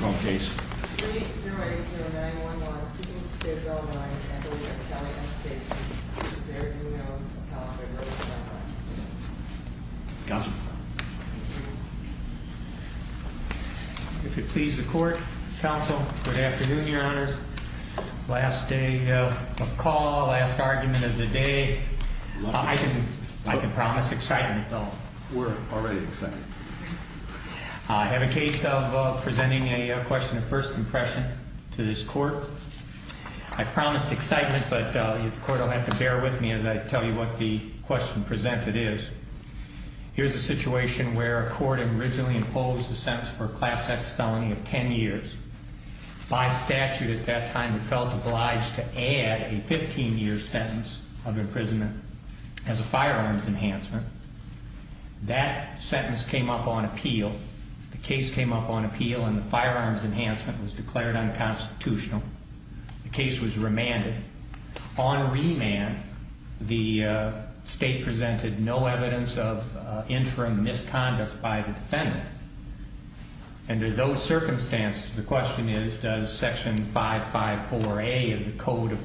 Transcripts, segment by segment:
wrong case. Gotcha. If it please the court Council. Good afternoon, your honors. Last day of call. Last argument of the day. I can promise excitement. We're already excited. I have a case of presenting a question of first impression to this court. I promised excitement, but the court will have to bear with me as I tell you what the question presented is. Here's a situation where a court originally imposed a sentence for class X felony of 10 years by statute. At that time, it felt obliged to add a 15 year sentence of imprisonment as a firearms enhancement. That sentence came up on appeal. The case came up on appeal, and the firearms enhancement was declared unconstitutional. The case was remanded on remand. The state presented no evidence of interim misconduct by the defendant. Under those circumstances, the question is, does section 554 A of the Code of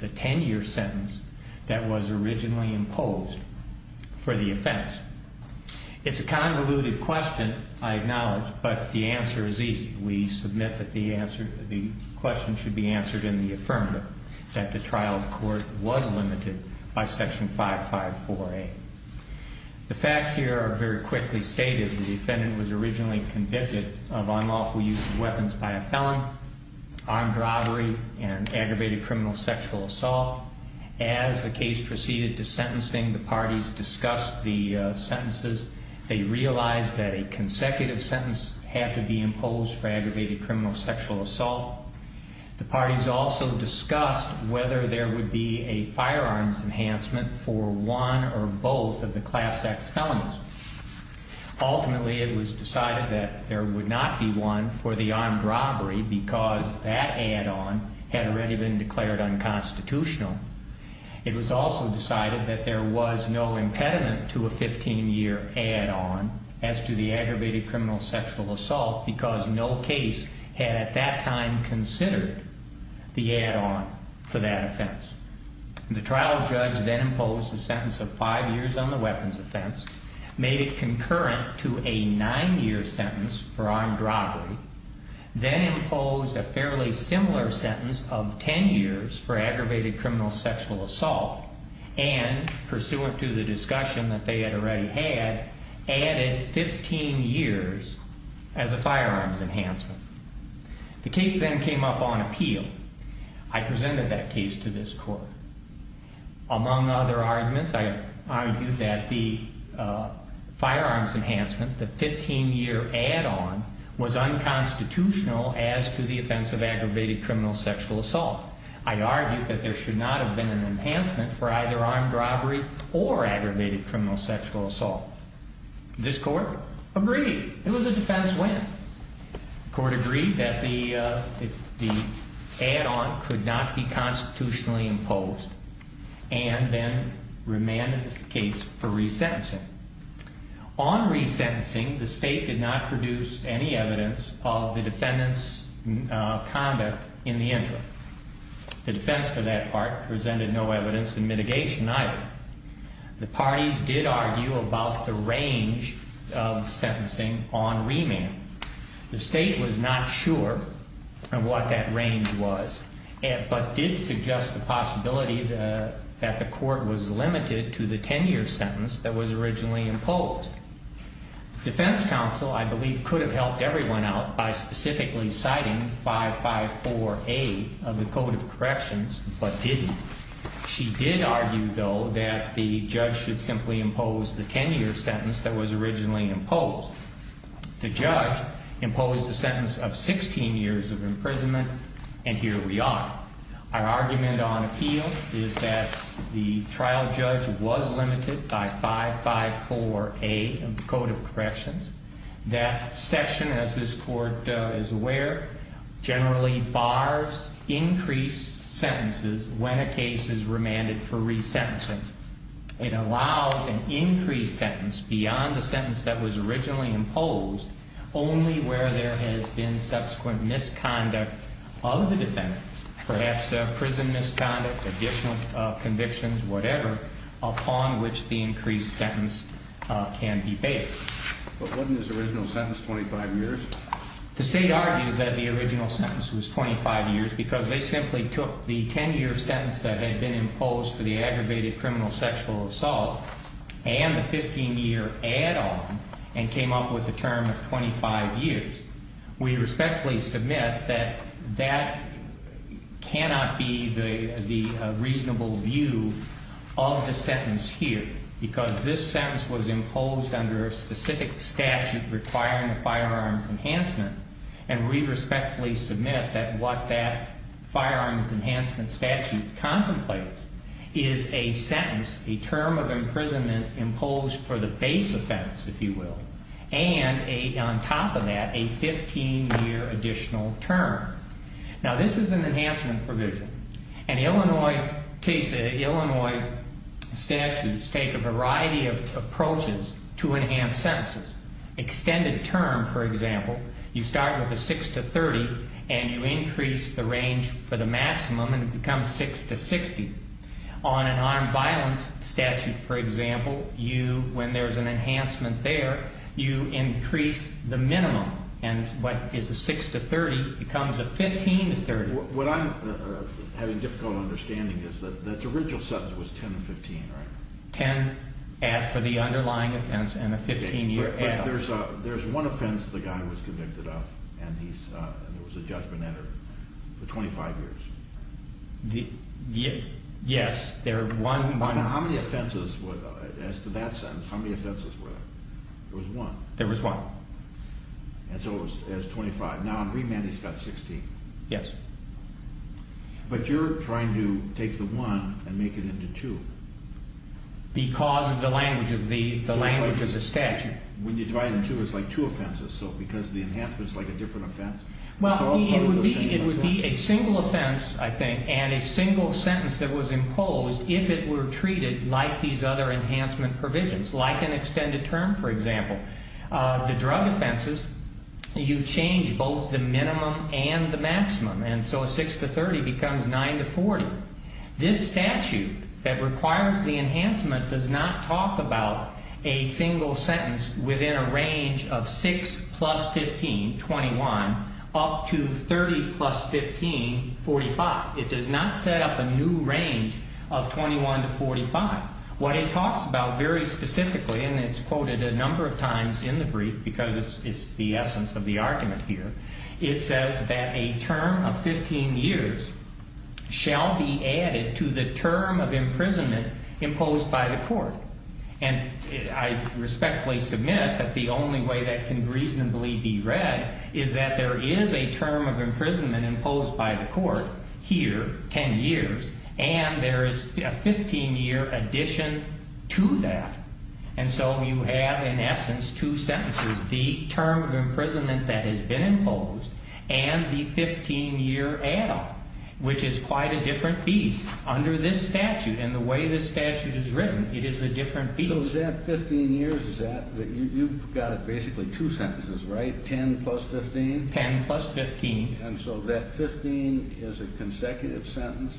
the 10 year sentence that was originally imposed for the offense? It's a convoluted question. I acknowledge, but the answer is easy. We submit that the answer. The question should be answered in the affirmative that the trial court was limited by section 554 A. The facts here are very quickly stated. The defendant was originally convicted of unlawful use of weapons by a felon, armed robbery and aggravated criminal sexual assault. As the case proceeded to sentencing, the parties discussed the sentences. They realized that a consecutive sentence had to be imposed for aggravated criminal sexual assault. The parties also discussed whether there would be a firearms enhancement for one or both of the class X felonies. Ultimately, it was decided that there would not be one for the armed robbery because that add-on had already been declared unconstitutional. It was also decided that there was no impediment to a 15 year add-on as to the aggravated criminal sexual assault because no case had at that time considered the add-on for that offense. The trial judge then imposed a sentence of five years on the weapons offense, made it concurrent to a nine year sentence for armed robbery, then imposed a fairly similar sentence of 10 years for aggravated criminal sexual assault, and pursuant to the discussion that they had already had, added 15 years as a firearms enhancement. The case then came up on appeal. I argued that the firearms enhancement, the 15 year add-on, was unconstitutional as to the offense of aggravated criminal sexual assault. I argued that there should not have been an enhancement for either armed robbery or aggravated criminal sexual assault. This court agreed. It was a defense win. The court agreed that the add-on could not be constitutionally imposed and then in this case for resentencing. On resentencing, the state did not produce any evidence of the defendant's conduct in the interim. The defense for that part presented no evidence in mitigation either. The parties did argue about the range of sentencing on remand. The state was not sure of what that range was, but did suggest the possibility that the court was limited to the 10 year sentence that was originally imposed. Defense counsel, I believe, could have helped everyone out by specifically citing 554A of the Code of Corrections, but didn't. She did argue, though, that the judge should simply impose the 10 year sentence that was originally imposed. The judge imposed the sentence of 16 years of imprisonment, and here we are. Our argument on appeal is that the trial judge was limited by 554A of the Code of Corrections. That section, as this court is aware, generally bars increased sentences when a case is remanded for resentencing. It allows an increased sentence beyond the sentence that was originally imposed only where there has been subsequent misconduct of the defendant, perhaps prison misconduct, additional convictions, whatever, upon which the increased sentence can be based. But wasn't his original sentence 25 years? The state argues that the original sentence was 25 years because they simply took the 10 year sentence that had been imposed for the aggravated criminal sexual assault and the 15 year add-on and came up with a term of 25 years. We respectfully submit that that cannot be the reasonable view of the sentence here because this sentence was imposed under a specific statute requiring firearms enhancement, and we respectfully submit that what that firearms enhancement statute contemplates is a sentence, a term of imprisonment imposed for the base offense, if you will, and on top of that, a 15 year additional term. Now, this is an enhancement provision, and Illinois cases, Illinois statutes take a variety of approaches to enhance sentences. Extended term, for example, you start with a 6 to 30 and you increase the maximum and it becomes 6 to 60. On an armed violence statute, for example, you, when there's an enhancement there, you increase the minimum and what is a 6 to 30 becomes a 15 to 30. What I'm having a difficult understanding is that the original sentence was 10 to 15, right? 10 add for the underlying offense and a 15 year add-on. There's one offense the guy was convicted of and there was a Yes, there are one. Now, how many offenses, as to that sentence, how many offenses were there? There was one. There was one. And so it was 25. Now in remand he's got 16. Yes. But you're trying to take the one and make it into two. Because of the language of the, the language of the statute. When you divide it in two, it's like two offenses, so because the enhancements like a different offense. Well, it would be a single offense, I think, and a single sentence that was imposed if it were treated like these other enhancement provisions, like an extended term, for example. The drug offenses, you change both the minimum and the maximum. And so a 6 to 30 becomes 9 to 40. This statute that requires the enhancement does not set up a new range of 21 to 45. What it talks about very specifically, and it's quoted a number of times in the brief, because it's the essence of the argument here, it says that a term of 15 years shall be added to the term of imprisonment imposed by the court. And I respectfully submit that the only way that can reasonably be read is that there is a term of imprisonment imposed by the court here, 10 years, and there is a 15-year addition to that. And so you have, in essence, two sentences. The term of imprisonment that has been imposed and the 15-year add-on, which is quite a different beast under this statute. And the way this statute is written, it is a different beast. So is that 15 years, is that, you've got basically two sentences, right? 10 plus 15? 10 plus 15. And so that 15 is a consecutive sentence?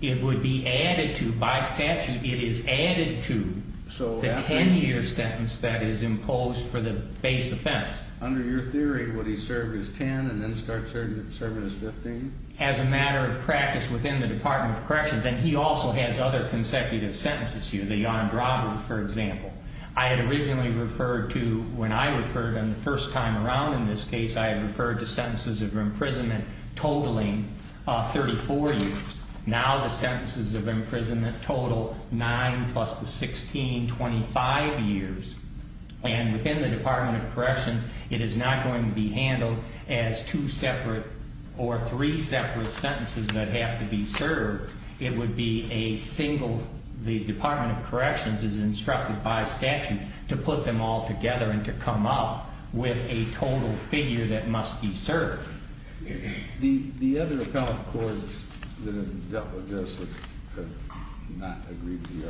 It would be added to, by statute, it is added to the 10-year sentence that is imposed for the base offense. Under your theory, would he serve as 10 and then start serving as 15? As a matter of practice within the Department of Corrections, and he also has other consecutive sentences here, the sentences of imprisonment totaling 34 years. Now the sentences of imprisonment total 9 plus the 16, 25 years. And within the Department of Corrections, it is not going to be handled as two separate or three separate sentences that have to be served. It would be a single, the Department of Corrections is instructed by the Department of Corrections to put them all together and to come up with a total figure that must be served. The other appellate courts that have dealt with this have not agreed to the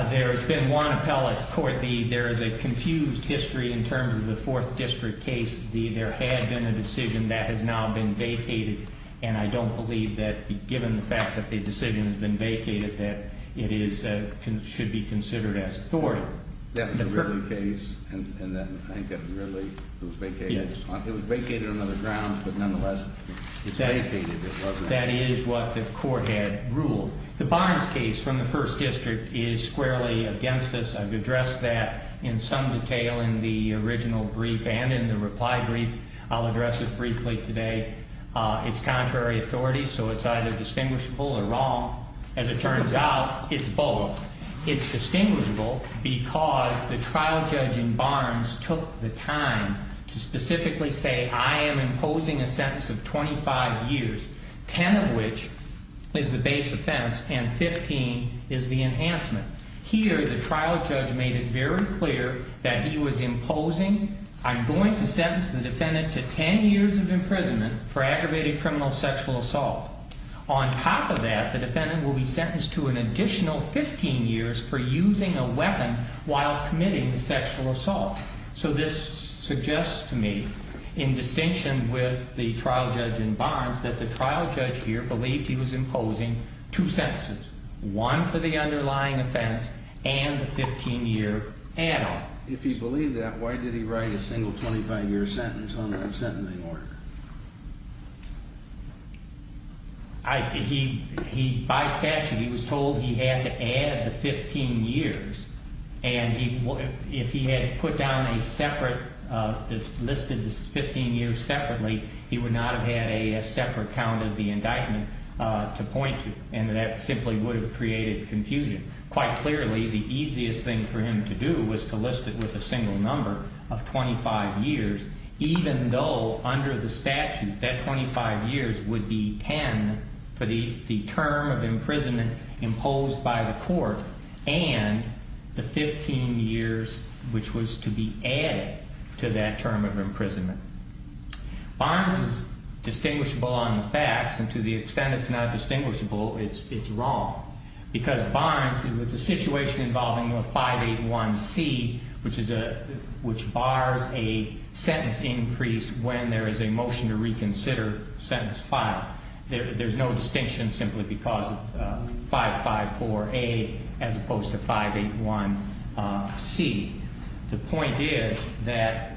other? There has been one appellate court. There is a confused history in terms of the Fourth District case. There had been a decision that has now been vacated, and I don't believe that, given the fact that the decision has been vacated, that it should be considered as authority. That was a Ridley case, and I think that Ridley was vacated. It was vacated on other grounds, but nonetheless, it's vacated. That is what the court had ruled. The Barnes case from the First District is squarely against us. I've addressed that in some detail in the original brief and in the reply brief. I'll address it briefly today. It's contrary authority, so it's either distinguishable or wrong. As it turns out, it's both. It's distinguishable because the trial judge in Barnes took the time to specifically say, I am imposing a sentence of 25 years, 10 of which is the base offense and 15 is the enhancement. Here, the trial judge made it very clear that he was imposing, I'm going to sentence the defendant to an additional 15 years for using a weapon while committing the sexual assault. So this suggests to me, in distinction with the trial judge in Barnes, that the trial judge here believed he was imposing two sentences, one for the underlying offense and a 15-year add-on. If he believed that, why did he write a single 25-year sentence on the indictment? He, by statute, he was told he had to add the 15 years. And if he had put down a separate, listed the 15 years separately, he would not have had a separate count of the indictment to point to. And that simply would have created confusion. Quite clearly, the easiest thing for him to do was to list it with a single number of 25 years, even though under the statute, that 25 years would be 10 for the term of imprisonment imposed by the court and the 15 years which was to be added to that term of imprisonment. Barnes is distinguishable on the facts, and to the extent it's not distinguishable, it's wrong. Because Barnes, it was a situation involving a 581C, which is a, which bars a sentence increase when there is a motion to reconsider sentence file. There's no distinction simply because 554A as opposed to 581C. The point is that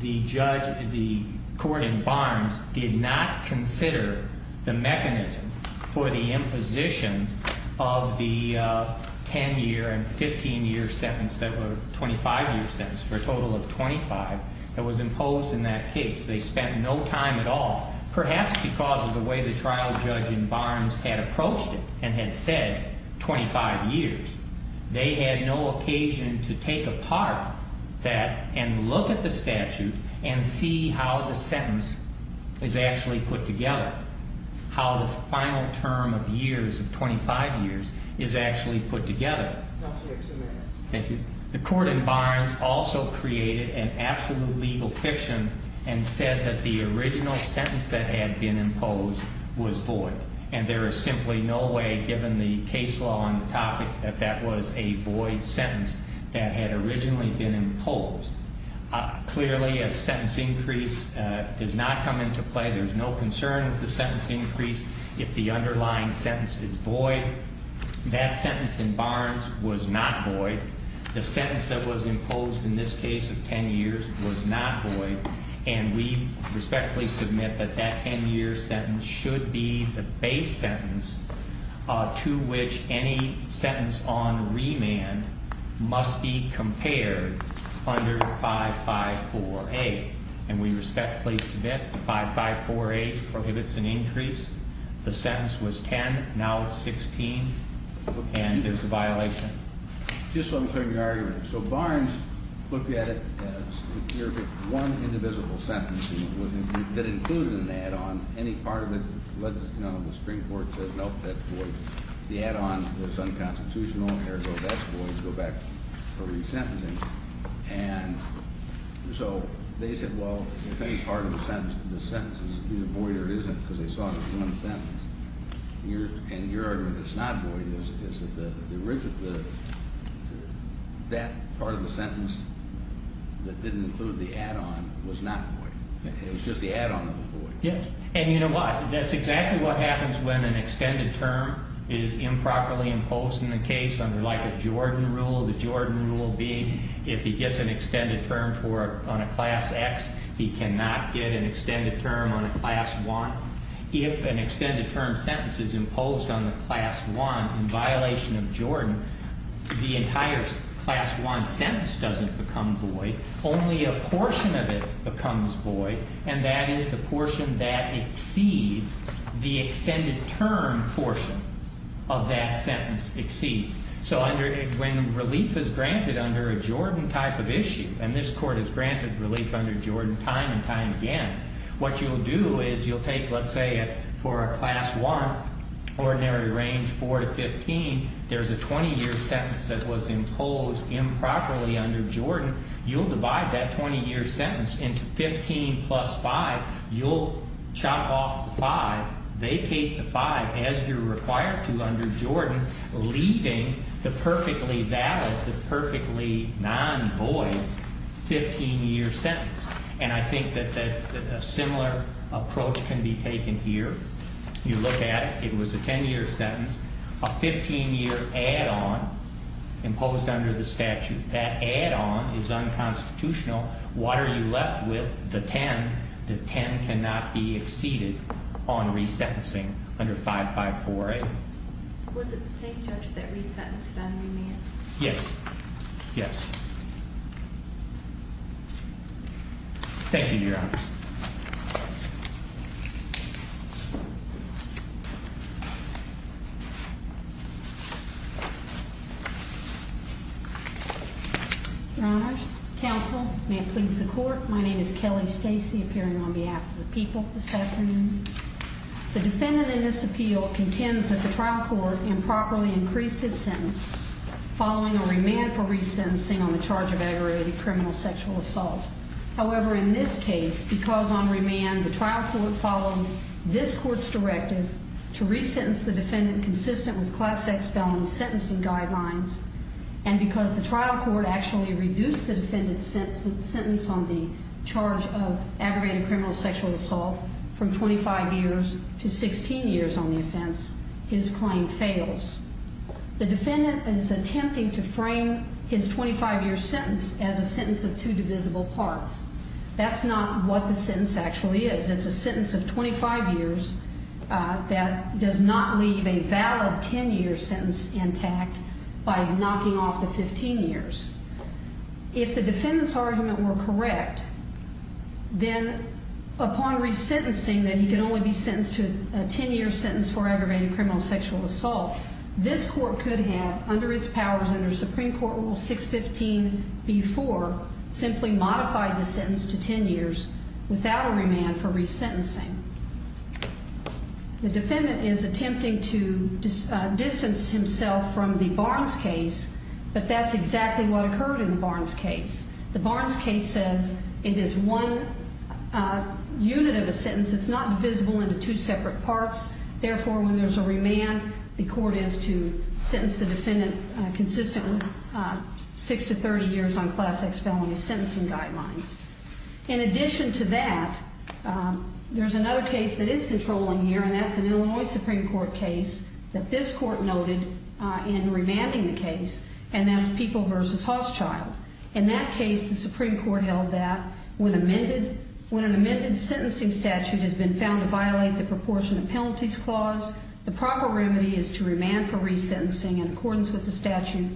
the judge, the court in Barnes did not consider the mechanism for the imposition of the 10 year and 15 year sentence that were 25 year sentence for a total of 25 that was imposed in that case. They spent no time at all, perhaps because of the way the trial judge in Barnes had approached it and had said 25 years. They had no occasion to take apart that and look at the statute and see how the sentence is actually put together. How the final term of years, of 25 years, is actually put together. The court in Barnes also created an absolute legal fiction and said that the original sentence that had been imposed was void. And there is simply no way, given the case law on the topic, that that was a void sentence that had originally been imposed. Clearly, a sentence increase does not come into play. There's no concern with the sentence increase if the underlying sentence is void. That sentence in Barnes was not void. The sentence that was imposed in this case of 10 years was not void. And we respectfully submit that that 10 year sentence should be the base sentence to which any sentence on remand must be compared under 5548. And we respectfully submit 5548 prohibits an increase. The sentence was 10. Now it's 16. And there's a violation. So Barnes looked at it as one indivisible sentence that included an add-on. Any part of it, the Supreme Court said, nope, that's void. The add-on was unconstitutional. Therefore, that's void. Go back for resentencing. And so they said, well, if any part of the sentence is either void or isn't because they saw it as one sentence, and your argument that it's not void is that the add-on is void. And you know what? That's exactly what happens when an extended term is improperly imposed in the case under like a Jordan rule. The Jordan rule being if he gets an extended term on a Class X, he cannot get an extended term on a Class 1. If an extended term sentence is imposed on the Class 1 in violation of Jordan, the entire Class 1 sentence doesn't become void. Only a portion of it becomes void, and that is the portion that exceeds the extended term portion of that sentence exceeds. So when relief is granted under a Jordan type of issue, and this Court has granted relief under Jordan time and time again, what you'll do is you'll take, let's say, for a Class 1 ordinary range 4 to 15, there's a 20-year sentence that was imposed improperly under Jordan. You'll divide that 20-year sentence into 15 plus 5. You'll chop off the 5. They take the 5 as you're required to under Jordan, leaving the perfectly valid, the perfectly non-void 15-year sentence. And I think that a similar approach can be taken here. You look at it. It was a 10-year sentence. A 15-year add-on imposed under the statute. That add-on is unconstitutional. What are you left with? The 10. The 10 cannot be exceeded on resentencing under 554A. Was it the same judge that resentenced on remand? Yes. Thank you, Your Honors. Your Honors, counsel, may it please the Court, my name is Kelly Stacy, appearing on behalf of the people this afternoon. The defendant in this appeal contends that the trial court improperly increased his sentence following a remand for resentencing on the charge of aggravated criminal sexual assault. However, in this case, because on remand the trial court followed this court's directive to resentence the defendant consistent with Class X felony sentencing guidelines, and because the trial court actually reduced the defendant's sentence on the charge of aggravated criminal sexual assault from 25 years to 16 years on the offense, his claim fails. The defendant is attempting to frame his 25-year sentence as a sentence of two divisible parts. That's not what the sentence actually is. It's a sentence of 25 years that does not leave a valid 10-year sentence intact by knocking off the 15 years. If the defendant's argument were correct, then upon resentencing that he could only be sentenced to a 10-year sentence for aggravated criminal sexual assault, this court could have, under its powers under Supreme Court Rule 615b-4, simply modified the sentence to 10 years without a remand for resentencing. The defendant is attempting to distance himself from the Barnes case, but that's exactly what occurred in the Barnes case. The Barnes case says it is one unit of a sentence. It's not divisible into two separate parts. Therefore, when there's a remand, the court is to sentence the defendant consistent with 6-30 years on Class X felony sentencing guidelines. In addition to that, there's another case that is controlling here, and that's an Illinois Supreme Court case that this court noted in remanding the case, and that's People v. Hochschild. In that case, the Supreme Court held that when an amended sentencing statute has been found to violate the proportion of penalties clause, the proper remedy is to remand for resentencing in accordance with the statute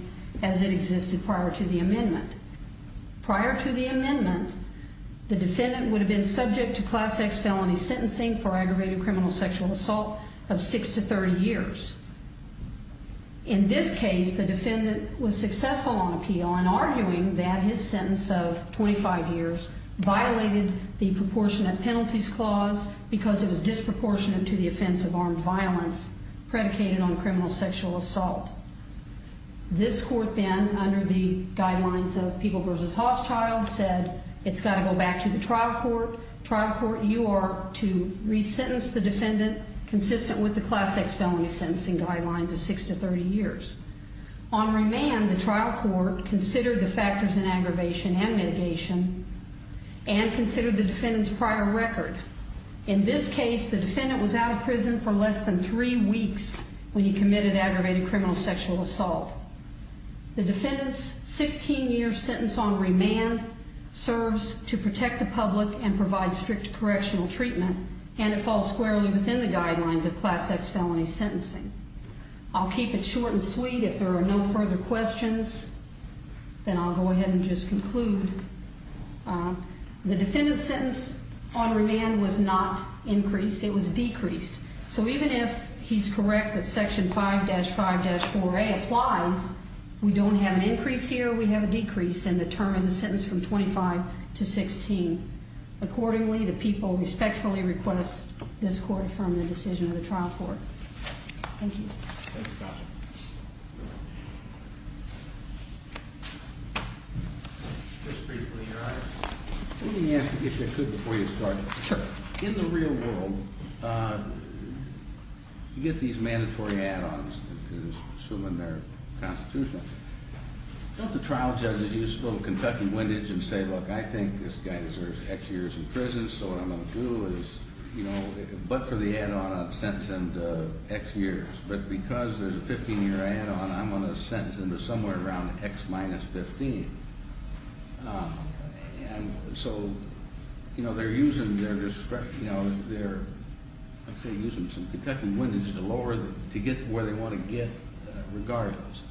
as it existed prior to the amendment. Prior to the amendment, the defendant would have been subject to Class X felony sentencing for aggravated criminal sexual assault of 6-30 years. In this case, the defendant was successful on appeal in arguing that his sentence of 25 years violated the proportionate penalties clause because it was disproportionate to the offense of armed violence predicated on criminal sexual assault. This court then, under the guidelines of People v. Hochschild, said it's got to go back to the trial court. Trial court, you are to resentence the defendant consistent with the Class X felony sentencing guidelines of 6-30 years. On remand, the trial court considered the factors in aggravation and mitigation and considered the defendant's prior record. In this case, the defendant was out of prison for less than three weeks when he committed aggravated criminal sexual assault. The defendant's 16-year sentence on remand serves to protect the public and provide strict correctional treatment, and it falls squarely within the guidelines of Class X felony sentencing. I'll keep it short and sweet. If there are no further questions, then I'll go ahead and just conclude. The defendant's sentence on remand was not increased. It was decreased. So even if he's correct that Section 5-5-4A applies, we don't have an increase here. We have a decrease in the term of the sentence from 25 to 16. Accordingly, the people respectfully request this court affirm the decision of the trial court. Thank you. Thank you, Counselor. Just briefly, Your Honor. Let me ask you, if you could, before you start. Sure. In the real world, you get these mandatory add-ons that are assuming they're constitutional. Don't the trial judges use little Kentucky windage and say, look, I think this guy deserves X years in prison, so what I'm going to do is, you know, but for the add-on, I'll sentence him to X years. But because there's a 15-year add-on, I'm going to sentence him to somewhere around X minus 15. And so, you know, they're using their discretion, you know, they're, let's say, using some Kentucky windage to get where they want to get regardless.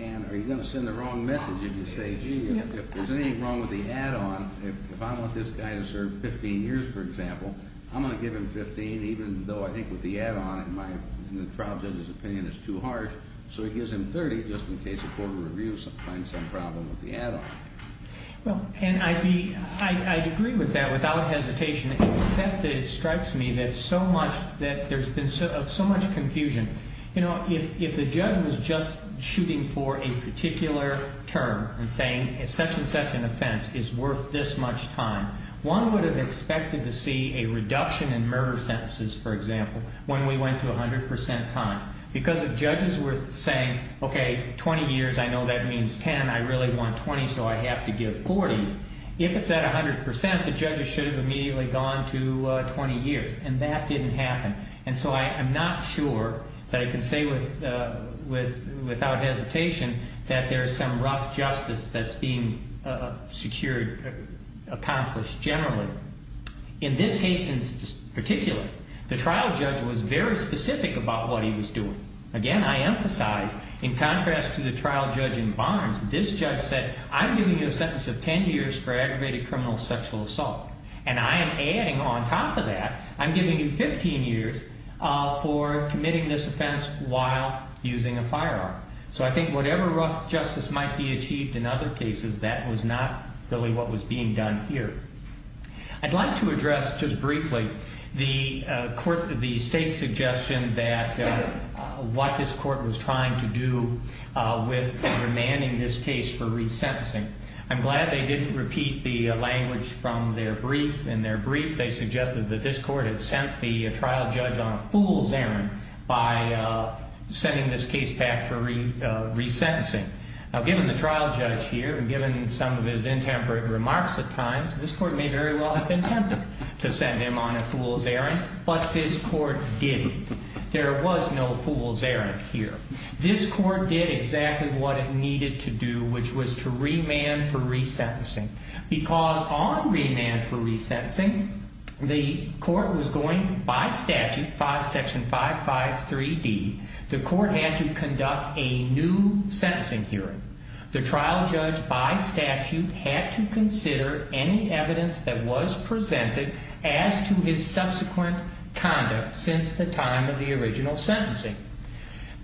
And are you going to send the wrong message if you say, gee, if there's anything wrong with the add-on, if I want this guy to serve 15 years, for example, I'm going to give him 15, even though I think with the add-on, in the trial judge's opinion, it's too harsh. So he gives him 30 just in case the court of review finds some problem with the add-on. Well, and I'd be, I'd agree with that without hesitation, except it strikes me that so much, that there's been so much confusion. You know, if the judge was just shooting for a particular term and saying, such and such an offense is worth this much time, one would have expected to see a reduction in murder sentences, for example, when we went to 100 percent time. Because if judges were saying, okay, 20 years, I know that means 10, I really want 20, so I have to give 40. If it's at 100 percent, the judges should have immediately gone to 20 years. And that didn't happen. And so I'm not sure that I can say without hesitation that there's some rough justice that's being secured, accomplished generally. In this case in particular, the trial judge was very specific about what he was doing. Again, I emphasize, in contrast to the trial judge in Barnes, this judge said, I'm giving you a sentence of 10 years for aggravated criminal sexual assault. And I am adding on top of that, I'm giving you 15 years for committing this offense while using a firearm. So I think whatever rough justice might be achieved in other cases, that was not really what was being done here. I'd like to address just briefly the court, the state's suggestion that what this court did, I'm glad they didn't repeat the language from their brief. In their brief, they suggested that this court had sent the trial judge on a fool's errand by sending this case back for resentencing. Now, given the trial judge here and given some of his intemperate remarks at times, this court may very well have been tempted to send him on a fool's errand. But this court didn't. There was no fool's errand here. This court did exactly what it needed to do, which was to remand for resentencing. Because on remand for resentencing, the court was going, by statute, Section 553D, the court had to conduct a new sentencing hearing. The trial judge, by statute, had to consider any evidence that was presented as to his misconduct.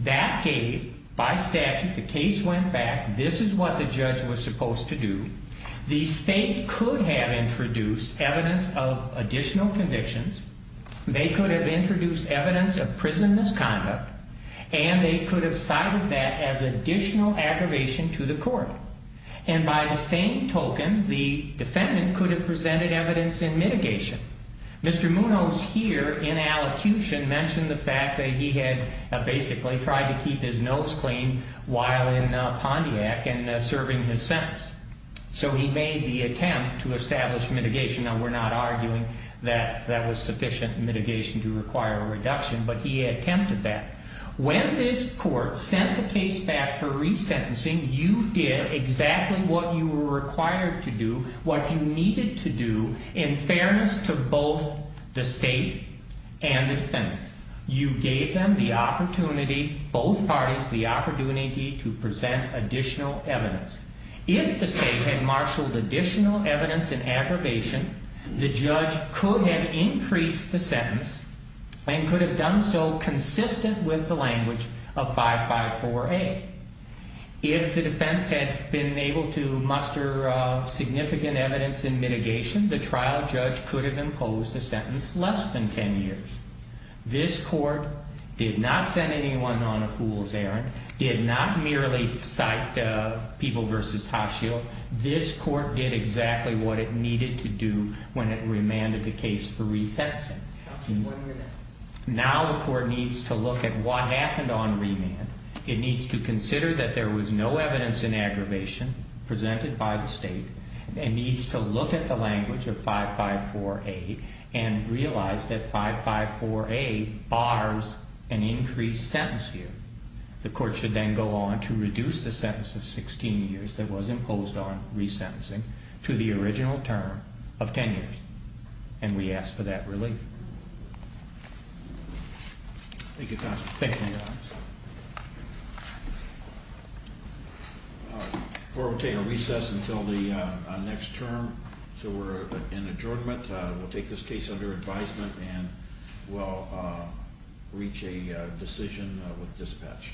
That gave, by statute, the case went back, this is what the judge was supposed to do. The state could have introduced evidence of additional convictions. They could have introduced evidence of prison misconduct. And they could have cited that as additional aggravation to the court. And by the same token, the defendant could have presented evidence in mitigation. Mr. Munoz here, in allocution, mentioned the fact that he had basically tried to keep his nose clean while in Pontiac and serving his sentence. So he made the attempt to establish mitigation. Now, we're not arguing that that was sufficient mitigation to require a reduction, but he attempted that. When this court sent the case back for resentencing, you did exactly what you were required to do, what you needed to do, in fairness to both the state and the defendant. You gave them the opportunity, both parties, the opportunity to present additional evidence. If the state had marshaled additional evidence in aggravation, the judge could have increased the sentence and could have done so consistent with the language of 554A. If the defense had been able to muster significant evidence in mitigation, the trial judge could have imposed a sentence less than 10 years. This court did not send anyone on a fool's errand, did not merely cite People v. Hotshield. This court did exactly what it needed to do when it remanded the case for one remand. It needs to consider that there was no evidence in aggravation presented by the state. It needs to look at the language of 554A and realize that 554A bars an increased sentence here. The court should then go on to reduce the sentence of 16 years that was imposed on resentencing to the original term of 10 years. And we ask for that approval. The court will take a recess until the next term, so we're in adjournment. We'll take this case under advisement and we'll reach a decision with dispatch.